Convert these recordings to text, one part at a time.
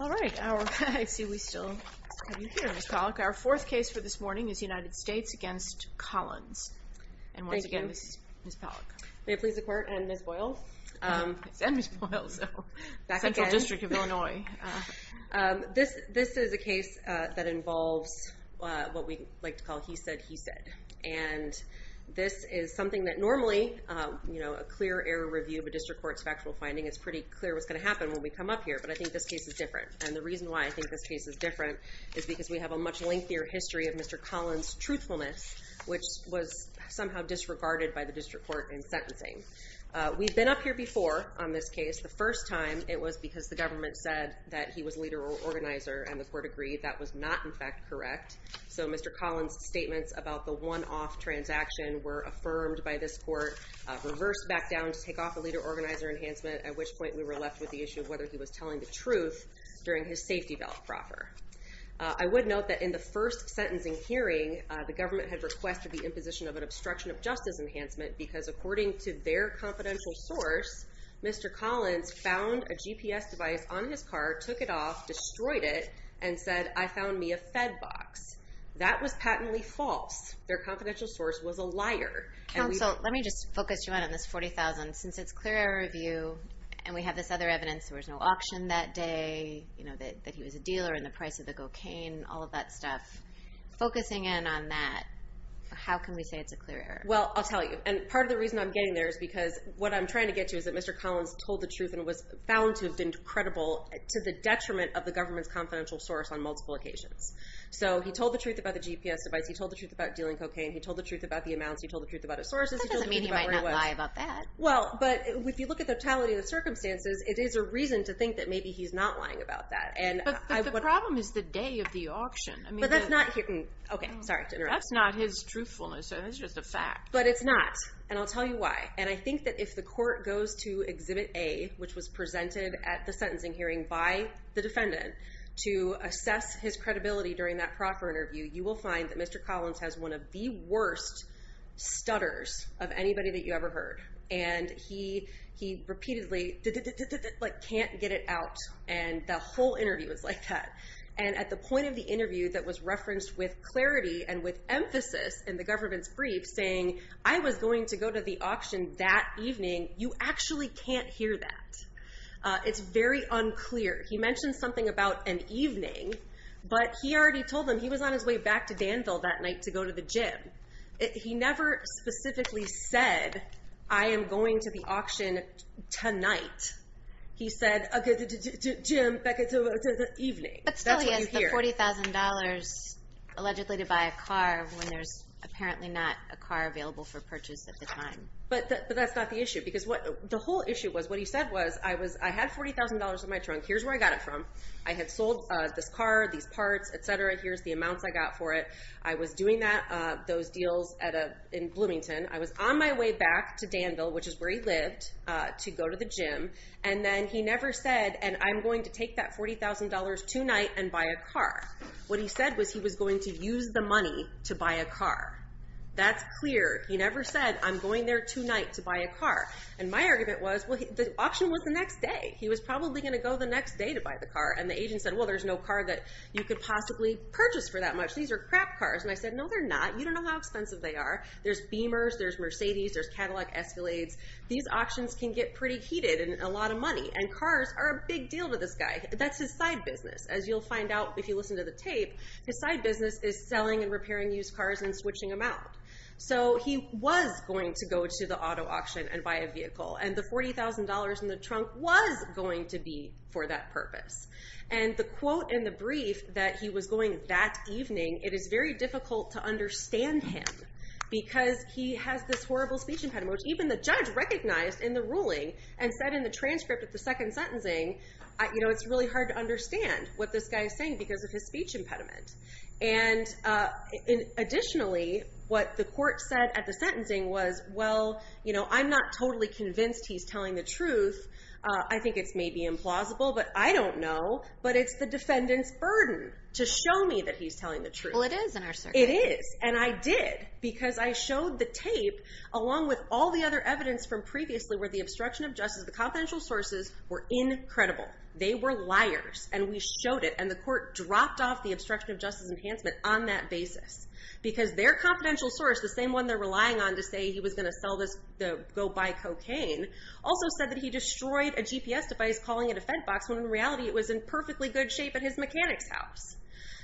All right. I see we still have you here, Ms. Pollack. Our fourth case for this morning is United States v. Collins. Thank you. And once again, this is Ms. Pollack. May it please the Court and Ms. Boyle. And Ms. Boyle. Central District of Illinois. This is a case that involves what we like to call he said, he said. And this is something that normally, you know, a clear error review of a district court's factual finding, it's pretty clear what's going to happen when we come up here. But I think this case is different. And the reason why I think this case is different is because we have a much lengthier history of Mr. Collins' truthfulness, which was somehow disregarded by the district court in sentencing. We've been up here before on this case. The first time, it was because the government said that he was a leader organizer, and the court agreed that was not, in fact, correct. So Mr. Collins' statements about the one-off transaction were affirmed by this court, reversed back down to take off a leader organizer enhancement, at which point we were left with the issue of whether he was telling the truth during his safety belt proffer. I would note that in the first sentencing hearing, the government had requested the imposition of an obstruction of justice enhancement because according to their confidential source, Mr. Collins found a GPS device on his car, took it off, destroyed it, and said, I found me a Fed box. That was patently false. Their confidential source was a liar. Counsel, let me just focus you on this $40,000. Since it's clear error review, and we have this other evidence, there was no auction that day, that he was a dealer, and the price of the cocaine, all of that stuff. Focusing in on that, how can we say it's a clear error? Well, I'll tell you. And part of the reason I'm getting there is because what I'm trying to get to is that Mr. Collins told the truth and was found to have been credible to the detriment of the government's confidential source on multiple occasions. So he told the truth about the GPS device. He told the truth about dealing cocaine. He told the truth about the amounts. He told the truth about his sources. That doesn't mean he might not lie about that. Well, but if you look at the totality of the circumstances, it is a reason to think that maybe he's not lying about that. But the problem is the day of the auction. But that's not... Okay, sorry to interrupt. That's not his truthfulness. That's just a fact. But it's not, and I'll tell you why. And I think that if the court goes to Exhibit A, which was presented at the sentencing hearing by the defendant, to assess his credibility during that proffer interview, you will find that Mr. Collins has one of the worst stutters of anybody that you ever heard. And he repeatedly can't get it out, and the whole interview is like that. And at the point of the interview that was referenced with clarity and with clarity, I was going to go to the auction that evening. You actually can't hear that. It's very unclear. He mentioned something about an evening, but he already told them he was on his way back to Danville that night to go to the gym. He never specifically said, I am going to the auction tonight. He said, a gym, back to the evening. That's what you hear. He said $40,000 allegedly to buy a car when there's apparently not a car available for purchase at the time. But that's not the issue. Because the whole issue was, what he said was, I had $40,000 in my trunk. Here's where I got it from. I had sold this car, these parts, et cetera. Here's the amounts I got for it. I was doing those deals in Bloomington. I was on my way back to Danville, which is where he lived, to go to the gym. And then he never said, I'm going to take that $40,000 tonight and buy a car. What he said was, he was going to use the money to buy a car. That's clear. He never said, I'm going there tonight to buy a car. And my argument was, the auction was the next day. He was probably going to go the next day to buy the car. And the agent said, well, there's no car that you could possibly purchase for that much. These are crap cars. And I said, no, they're not. You don't know how expensive they are. There's Beamers, there's Mercedes, there's Cadillac Escalades. These cars are a big deal to this guy. That's his side business. As you'll find out if you listen to the tape, his side business is selling and repairing used cars and switching them out. So he was going to go to the auto auction and buy a vehicle. And the $40,000 in the trunk was going to be for that purpose. And the quote in the brief that he was going that evening, it is very difficult to understand him because he has this horrible speech impediment, which even the judge recognized in the ruling and said in the transcript of the second sentencing, it's really hard to understand what this guy is saying because of his speech impediment. And additionally, what the court said at the sentencing was, well, I'm not totally convinced he's telling the truth. I think it's maybe implausible, but I don't know. But it's the defendant's burden to show me that he's telling the truth. Well, it is in our circuit. It is. And I did because I showed the tape along with all the other evidence from previously where the obstruction of justice, the confidential sources were incredible. They were liars. And we showed it. And the court dropped off the obstruction of justice enhancement on that basis because their confidential source, the same one they're relying on to say he was going to sell this, go buy cocaine, also said that he destroyed a GPS device calling a defense box when in reality it was in perfectly good shape at his mechanic's house.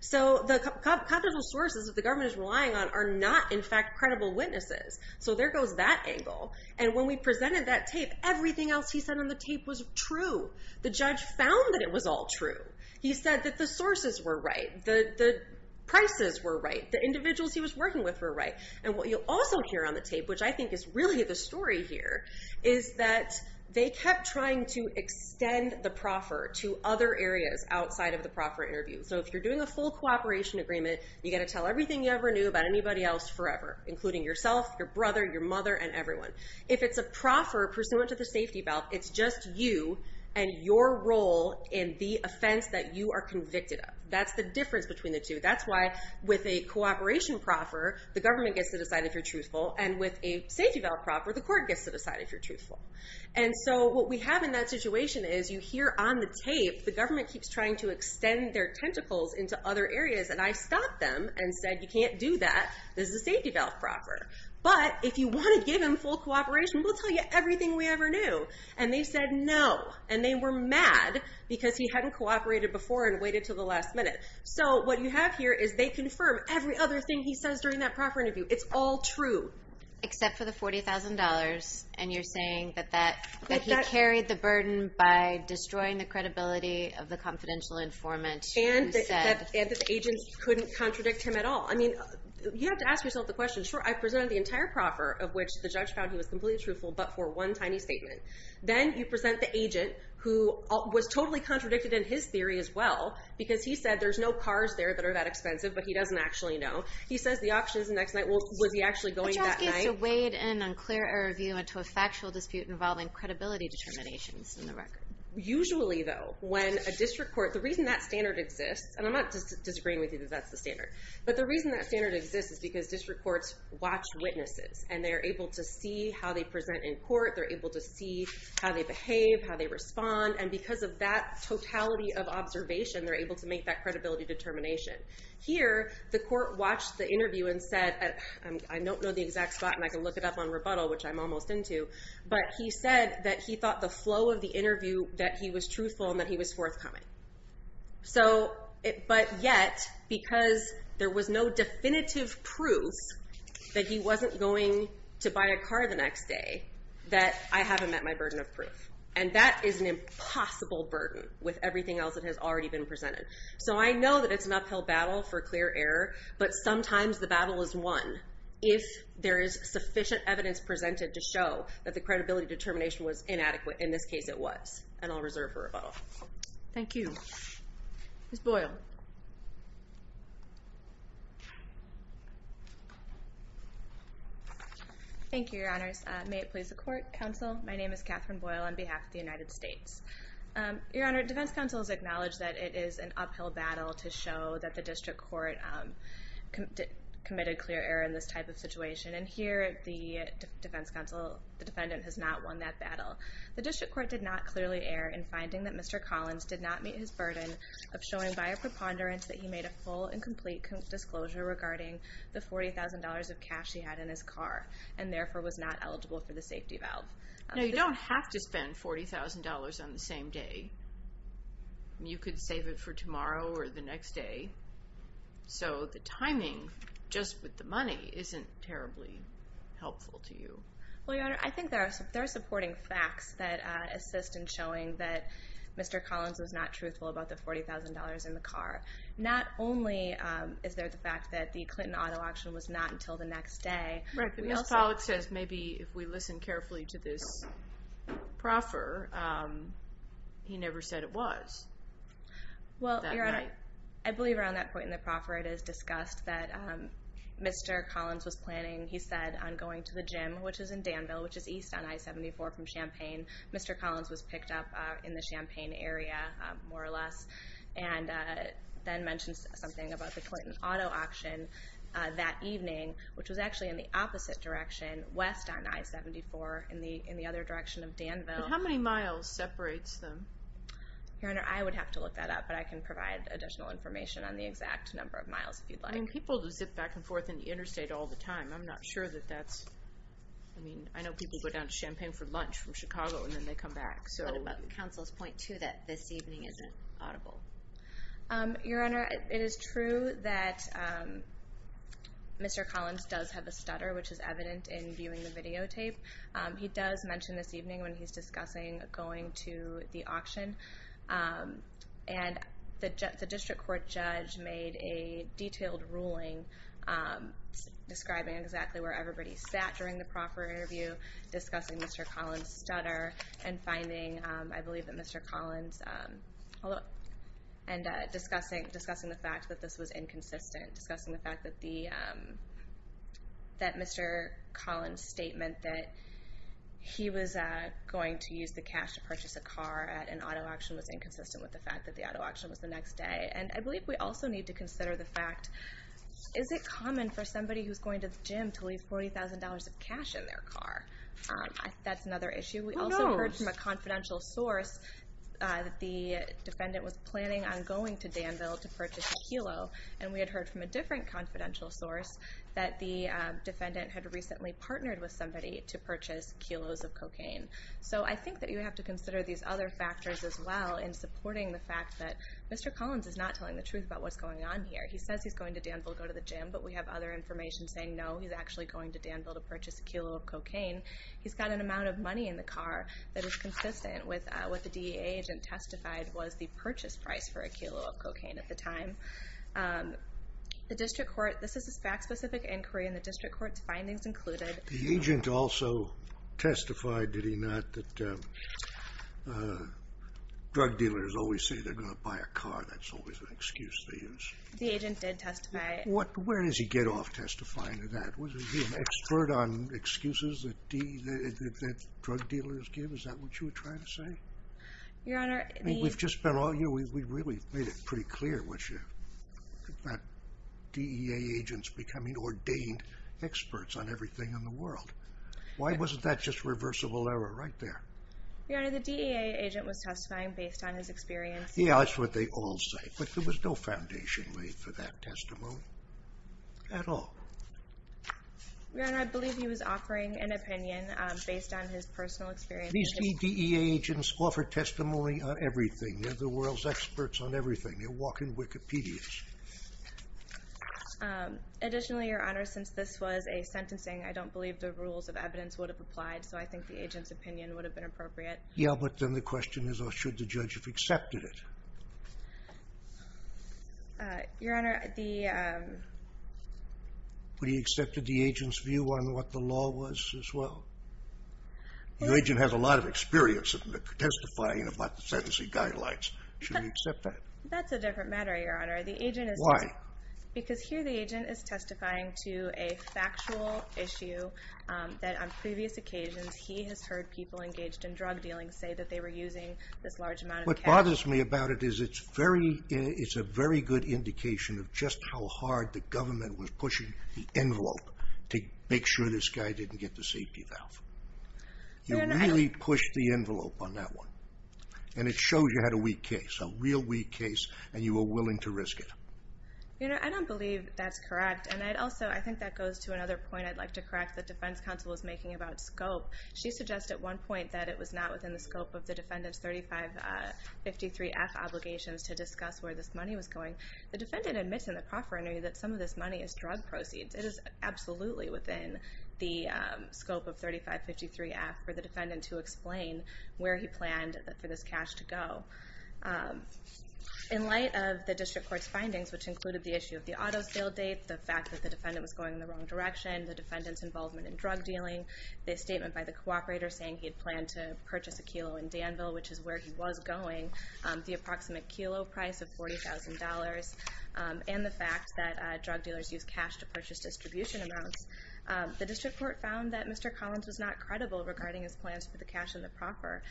So the confidential sources that the government is relying on are not, in fact, credible witnesses. So there goes that angle. And when we presented that tape, everything else he said on the tape was true. The judge found that it was all true. He said that the sources were right. The prices were right. The individuals he was working with were right. And what you'll also hear on the tape, which I think is really the story here, is that they kept trying to extend the proffer to other areas outside of the proffer interview. So if you're doing a full cooperation agreement, you got to tell everything you ever knew about anybody else forever, including yourself, your brother, your mother, and everyone. If it's a proffer pursuant to the safety belt, it's just you and your role in the offense that you are convicted of. That's the difference between the two. That's why with a cooperation proffer, the government gets to decide if you're truthful. And with a safety belt proffer, the court gets to decide if you're truthful. And so what we have in that situation is you hear on the tape, the government keeps trying to extend their tentacles into other areas. And I stopped them and said, you can't do that. This is a safety belt proffer. But if you want to give him full cooperation, we'll tell you everything we ever knew. And they said no. And they were mad because he hadn't cooperated before and waited until the last minute. So what you have here is they confirm every other thing he says during that proffer interview. It's all true. Except for the $40,000 and you're saying that he carried the burden by destroying the credibility of the confidential informant who said... And that the agent couldn't contradict him at all. I mean, you have to ask yourself the question. Sure, I presented the entire proffer of which the judge found he was completely truthful but for one tiny statement. Then you present the agent who was totally contradicted in his theory as well because he said there's no cars there that are that expensive but he doesn't actually know. He says the auction's the next night. Well, was he actually going that night? The judge gets to wade in on clear error of view into a factual dispute involving credibility determinations in the record. Usually though, when a district court... The reason that standard exists, and I'm not disagreeing with you that that's the standard. But the reason that standard exists is because district courts watch witnesses and they're able to see how they present in court. They're able to see how they behave, how they respond. And because of that totality of observation, they're able to make that credibility determination. Here the court watched the interview and said... I don't know the exact spot and I can look it up on rebuttal which I'm almost into. But he said that he thought the flow of the interview that he was truthful and that he was forthcoming. But yet, because there was no definitive proof that he wasn't going to buy a car the next day, that I haven't met my burden of proof. And that is an impossible burden with everything else that has already been presented. So I know that it's an uphill battle for clear error, but sometimes the battle is won if there is sufficient evidence presented to show that the credibility determination was correct. And I'll reserve for rebuttal. Thank you. Ms. Boyle. Thank you, your honors. May it please the court, counsel. My name is Catherine Boyle on behalf of the United States. Your honor, defense counsel has acknowledged that it is an uphill battle to show that the district court committed clear error in this type of situation. And here the defense counsel, the defendant has not won that battle. The district court did not clearly err in finding that Mr. Collins did not meet his burden of showing by a preponderance that he made a full and complete disclosure regarding the $40,000 of cash he had in his car and therefore was not eligible for the safety valve. Now you don't have to spend $40,000 on the same day. You could save it for tomorrow or the next day. So the timing just with the money isn't terribly helpful to you. Well, your honor, I think there are supporting facts that assist in showing that Mr. Collins was not truthful about the $40,000 in the car. Not only is there the fact that the Clinton auto auction was not until the next day. Right, but Ms. Pollack says maybe if we listen carefully to this proffer, he never said it was that night. Well, your honor, I believe around that point in the proffer it is discussed that Mr. Collins was planning, he said, on going to the gym, which is in Danville, which is east on I-74 from Champaign. Mr. Collins was picked up in the Champaign area, more or less, and then mentions something about the Clinton auto auction that evening, which was actually in the opposite direction, west on I-74, in the other direction of Danville. But how many miles separates them? Your honor, I would have to look that up, but I can provide additional information on the exact number of miles if you'd like. People zip back and forth in the interstate all the time. I'm not sure that that's... I know people go down to Champaign for lunch from Chicago, and then they come back. What about counsel's point, too, that this evening isn't audible? Your honor, it is true that Mr. Collins does have a stutter, which is evident in viewing the videotape. He does mention this evening when he's discussing going to the auction. And the district court judge made a detailed ruling describing exactly where everybody sat during the proper interview, discussing Mr. Collins' stutter, and finding, I believe, that Mr. Collins... And discussing the fact that this was inconsistent, discussing the fact that Mr. Collins' statement that he was going to use the cash to purchase a car at an auto auction was inconsistent with the fact that the auto auction was the next day. And I believe we also need to consider the fact, is it common for somebody who's going to the gym to leave $40,000 of cash in their car? That's another issue. We also heard from a confidential source that the defendant was planning on going to Danville to purchase a kilo, and we had heard from a different confidential source that the defendant had recently partnered with somebody to purchase kilos of cocaine. So I think that you have to consider these other factors as well in supporting the fact that Mr. Collins is not telling the truth about what's going on here. He says he's going to Danville to go to the gym, but we have other information saying, no, he's actually going to Danville to purchase a kilo of cocaine. He's got an amount of money in the car that is consistent with what the DEA agent testified was the purchase price for a kilo of cocaine at the time. The district court... This is a fact-specific inquiry, and the district court's findings The agent also testified, did he not, that drug dealers always say they're going to buy a car. That's always an excuse they use. The agent did testify. Where does he get off testifying to that? Was he an expert on excuses that drug dealers give? Is that what you were trying to say? Your Honor, the... We've just been all... We really made it pretty clear what you... DEA agents becoming ordained experts on everything in the world. Why wasn't that just reversible error right there? Your Honor, the DEA agent was testifying based on his experience. Yeah, that's what they all say, but there was no foundation laid for that testimony at all. Your Honor, I believe he was offering an opinion based on his personal experience. These DEA agents offer testimony on everything. They're the world's experts on everything. They walk in Wikipedia's. Additionally, Your Honor, since this was a sentencing, I don't believe the rules of evidence would have applied, so I think the agent's opinion would have been appropriate. Yeah, but then the question is, should the judge have accepted it? Your Honor, the... Would he have accepted the agent's view on what the law was as well? The agent has a lot of experience testifying about the sentencing guidelines. Should he accept that? That's a different matter, Your Honor. The agent is... Why? Because here the agent is testifying to a factual issue that on previous occasions he has heard people engaged in drug dealing say that they were using this large amount of cash. What bothers me about it is it's very... It's a very good indication of just how hard the government was pushing the envelope to make sure this guy didn't get the safety valve. You really pushed the envelope on that one, and it shows you had a weak case and you were willing to risk it. Your Honor, I don't believe that's correct, and I'd also... I think that goes to another point I'd like to correct the defense counsel was making about scope. She suggests at one point that it was not within the scope of the defendant's 3553-F obligations to discuss where this money was going. The defendant admits in the proffering that some of this money is drug proceeds. It is absolutely within the scope of 3553-F for the defendant to explain where he planned for this cash to go. In light of the district court's findings, which included the issue of the auto sale date, the fact that the defendant was going in the wrong direction, the defendant's involvement in drug dealing, the statement by the cooperator saying he had planned to purchase a kilo in Danville, which is where he was going, the approximate kilo price of $40,000, and the fact that drug dealers use cash to purchase distribution amounts, the district court found that Mr. Collins was not credible regarding his plans for the cash in the proffer.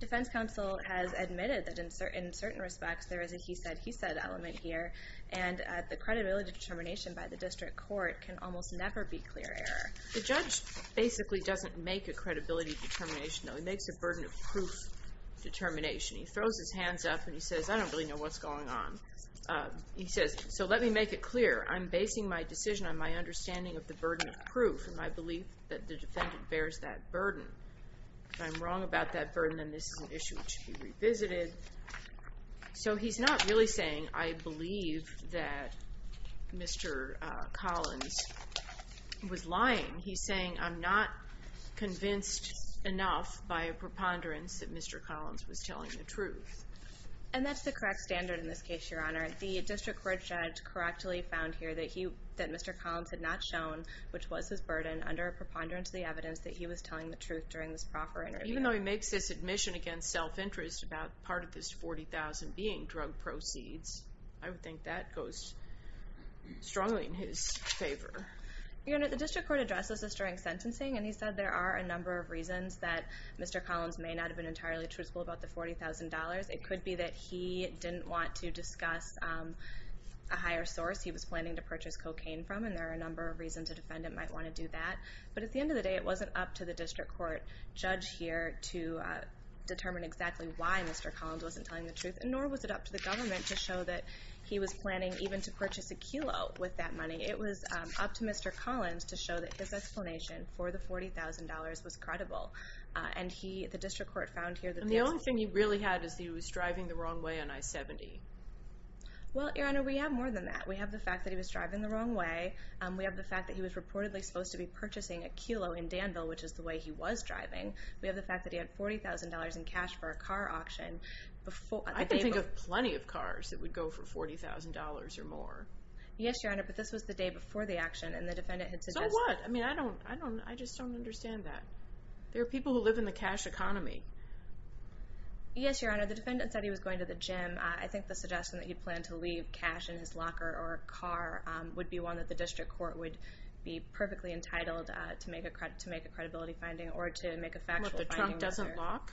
Defense counsel has admitted that in certain respects there is a he said, he said element here, and the credibility determination by the district court can almost never be clear error. The judge basically doesn't make a credibility determination, though. He makes a burden of proof determination. He throws his hands up and he says, I don't really know what's going on. He says, so let me make it clear. I'm basing my decision on my understanding of the burden of proof and my belief that the defendant bears that burden. If I'm wrong about that burden, then this is an issue which should be revisited. So he's not really saying I believe that Mr. Collins was lying. He's saying I'm not convinced enough by a preponderance that Mr. Collins was lying. The district court judge correctly found here that he that Mr. Collins had not shown which was his burden under a preponderance of the evidence that he was telling the truth during this proffer interview. Even though he makes this admission against self-interest about part of this $40,000 being drug proceeds, I would think that goes strongly in his favor. The district court addresses this during sentencing, and he said there are a number of reasons that Mr. Collins may not have been entirely truthful about the $40,000. It could be that he didn't want to discuss a higher source he was planning to purchase cocaine from, and there are a number of reasons a defendant might want to do that. But at the end of the day, it wasn't up to the district court judge here to determine exactly why Mr. Collins wasn't telling the truth, nor was it up to the government to show that he was planning even to purchase a kilo with that money. It was up to Mr. Collins to show that his explanation for the $40,000 was credible. And the district court found here that the only thing he really had is he was driving the wrong way on I-70. Well, Your Honor, we have more than that. We have the fact that he was driving the wrong way. We have the fact that he was reportedly supposed to be purchasing a kilo in Danville, which is the way he was driving. We have the fact that he had $40,000 in cash for a car auction before... I can think of plenty of cars that would go for $40,000 or more. Yes, Your Honor, but this was the day before the action, and the defendant had suggested... So what? I mean, I don't, I don't, I just don't understand that. There are people who live in the cash economy. Yes, Your Honor, the defendant said he was going to the gym. I think the suggestion that he planned to leave cash in his locker or car would be one that the district court would be perfectly entitled to make a credibility finding or to make a factual finding. What, the trunk doesn't lock?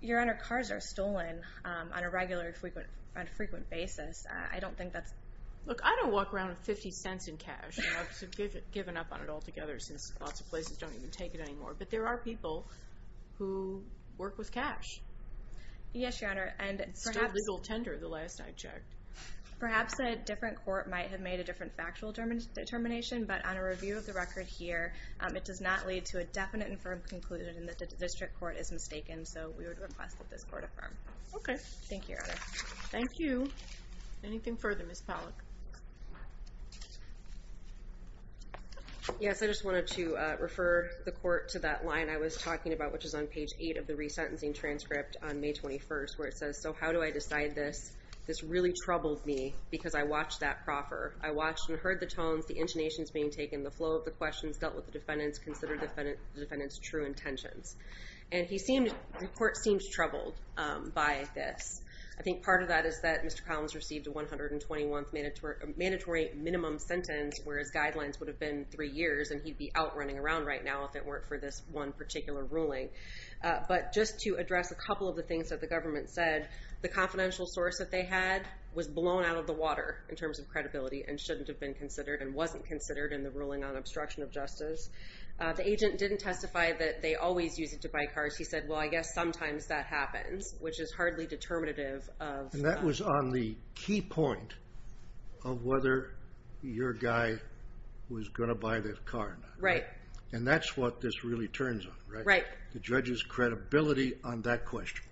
Your Honor, cars are stolen on a regular, frequent, on a frequent basis. I don't think that's... Look, I don't walk around with 50 cents in cash. I've given up on it altogether since lots of places don't even take it anymore, but there are people who work with cash. Yes, Your Honor, and perhaps... It's still legal tender, the last I checked. Perhaps a different court might have made a different factual determination, but on a review of the record here, it does not lead to a definite and firm conclusion that the district court is mistaken, so we would request that this court affirm. Okay. Thank you, Your Honor. Thank you. Anything further, Ms. Pollack? Yes, I just wanted to refer the court to that line I was talking about, which is on page eight of the resentencing transcript on May 21st, where it says, so how do I decide this? This really troubled me because I watched that proffer. I watched and heard the tones, the intonations being taken, the flow of the questions, dealt with the defendants, considered the defendants' true intentions. And the court seems troubled by this. I think part of that is that Mr. Collins received a 121th mandatory minimum sentence, whereas guidelines would have been three years and he'd be out running around right now if it weren't for this one particular ruling. But just to address a couple of the things that the government said, the confidential source that they had was blown out of the water in terms of credibility and shouldn't have been considered and wasn't considered in the ruling on obstruction of justice. The agent didn't testify that they always use it to buy cars. He said, well, I guess sometimes that happens, which is hardly determinative of- And that was on the key point of whether your guy was going to buy this car or not. Right. And that's what this really turns on, right? Right. The judge's credibility on that question.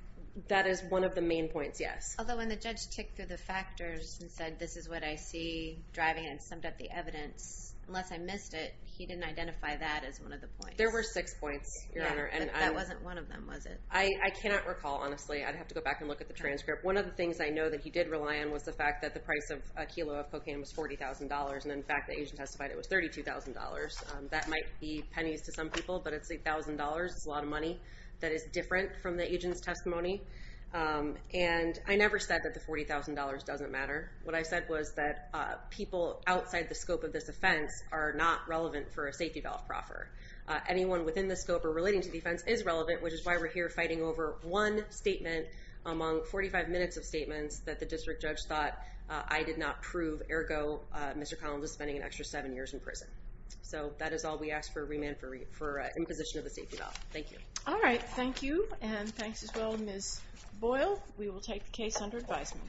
That is one of the main points, yes. Although when the judge ticked through the factors and said, this is what I see driving and summed up the evidence, unless I missed it, he didn't identify that as one of the points. There were six points, Your Honor. That wasn't one of them, was it? I cannot recall, honestly. I'd have to go back and look at the transcript. One of the things I know that he did rely on was the fact that the price of a kilo of cocaine was $40,000. And in fact, the agent testified it was $32,000. That might be pennies to some people, but it's $1,000. It's a lot of money that is different from the agent's testimony. And I never said that the $40,000 doesn't matter. What I said was that people outside the scope of this offense are not relevant for a safety valve proffer. Anyone within the scope or relating to the offense is relevant, which is why we're here fighting over one statement among 45 minutes of statements that the district judge thought I did not prove. Ergo, Mr. Collins is spending an extra seven years in prison. So that is all we ask for remand for imposition of the safety valve. Thank you. All right. Thank you. And thanks as well, Ms. Boyle. We will take the case under advisement.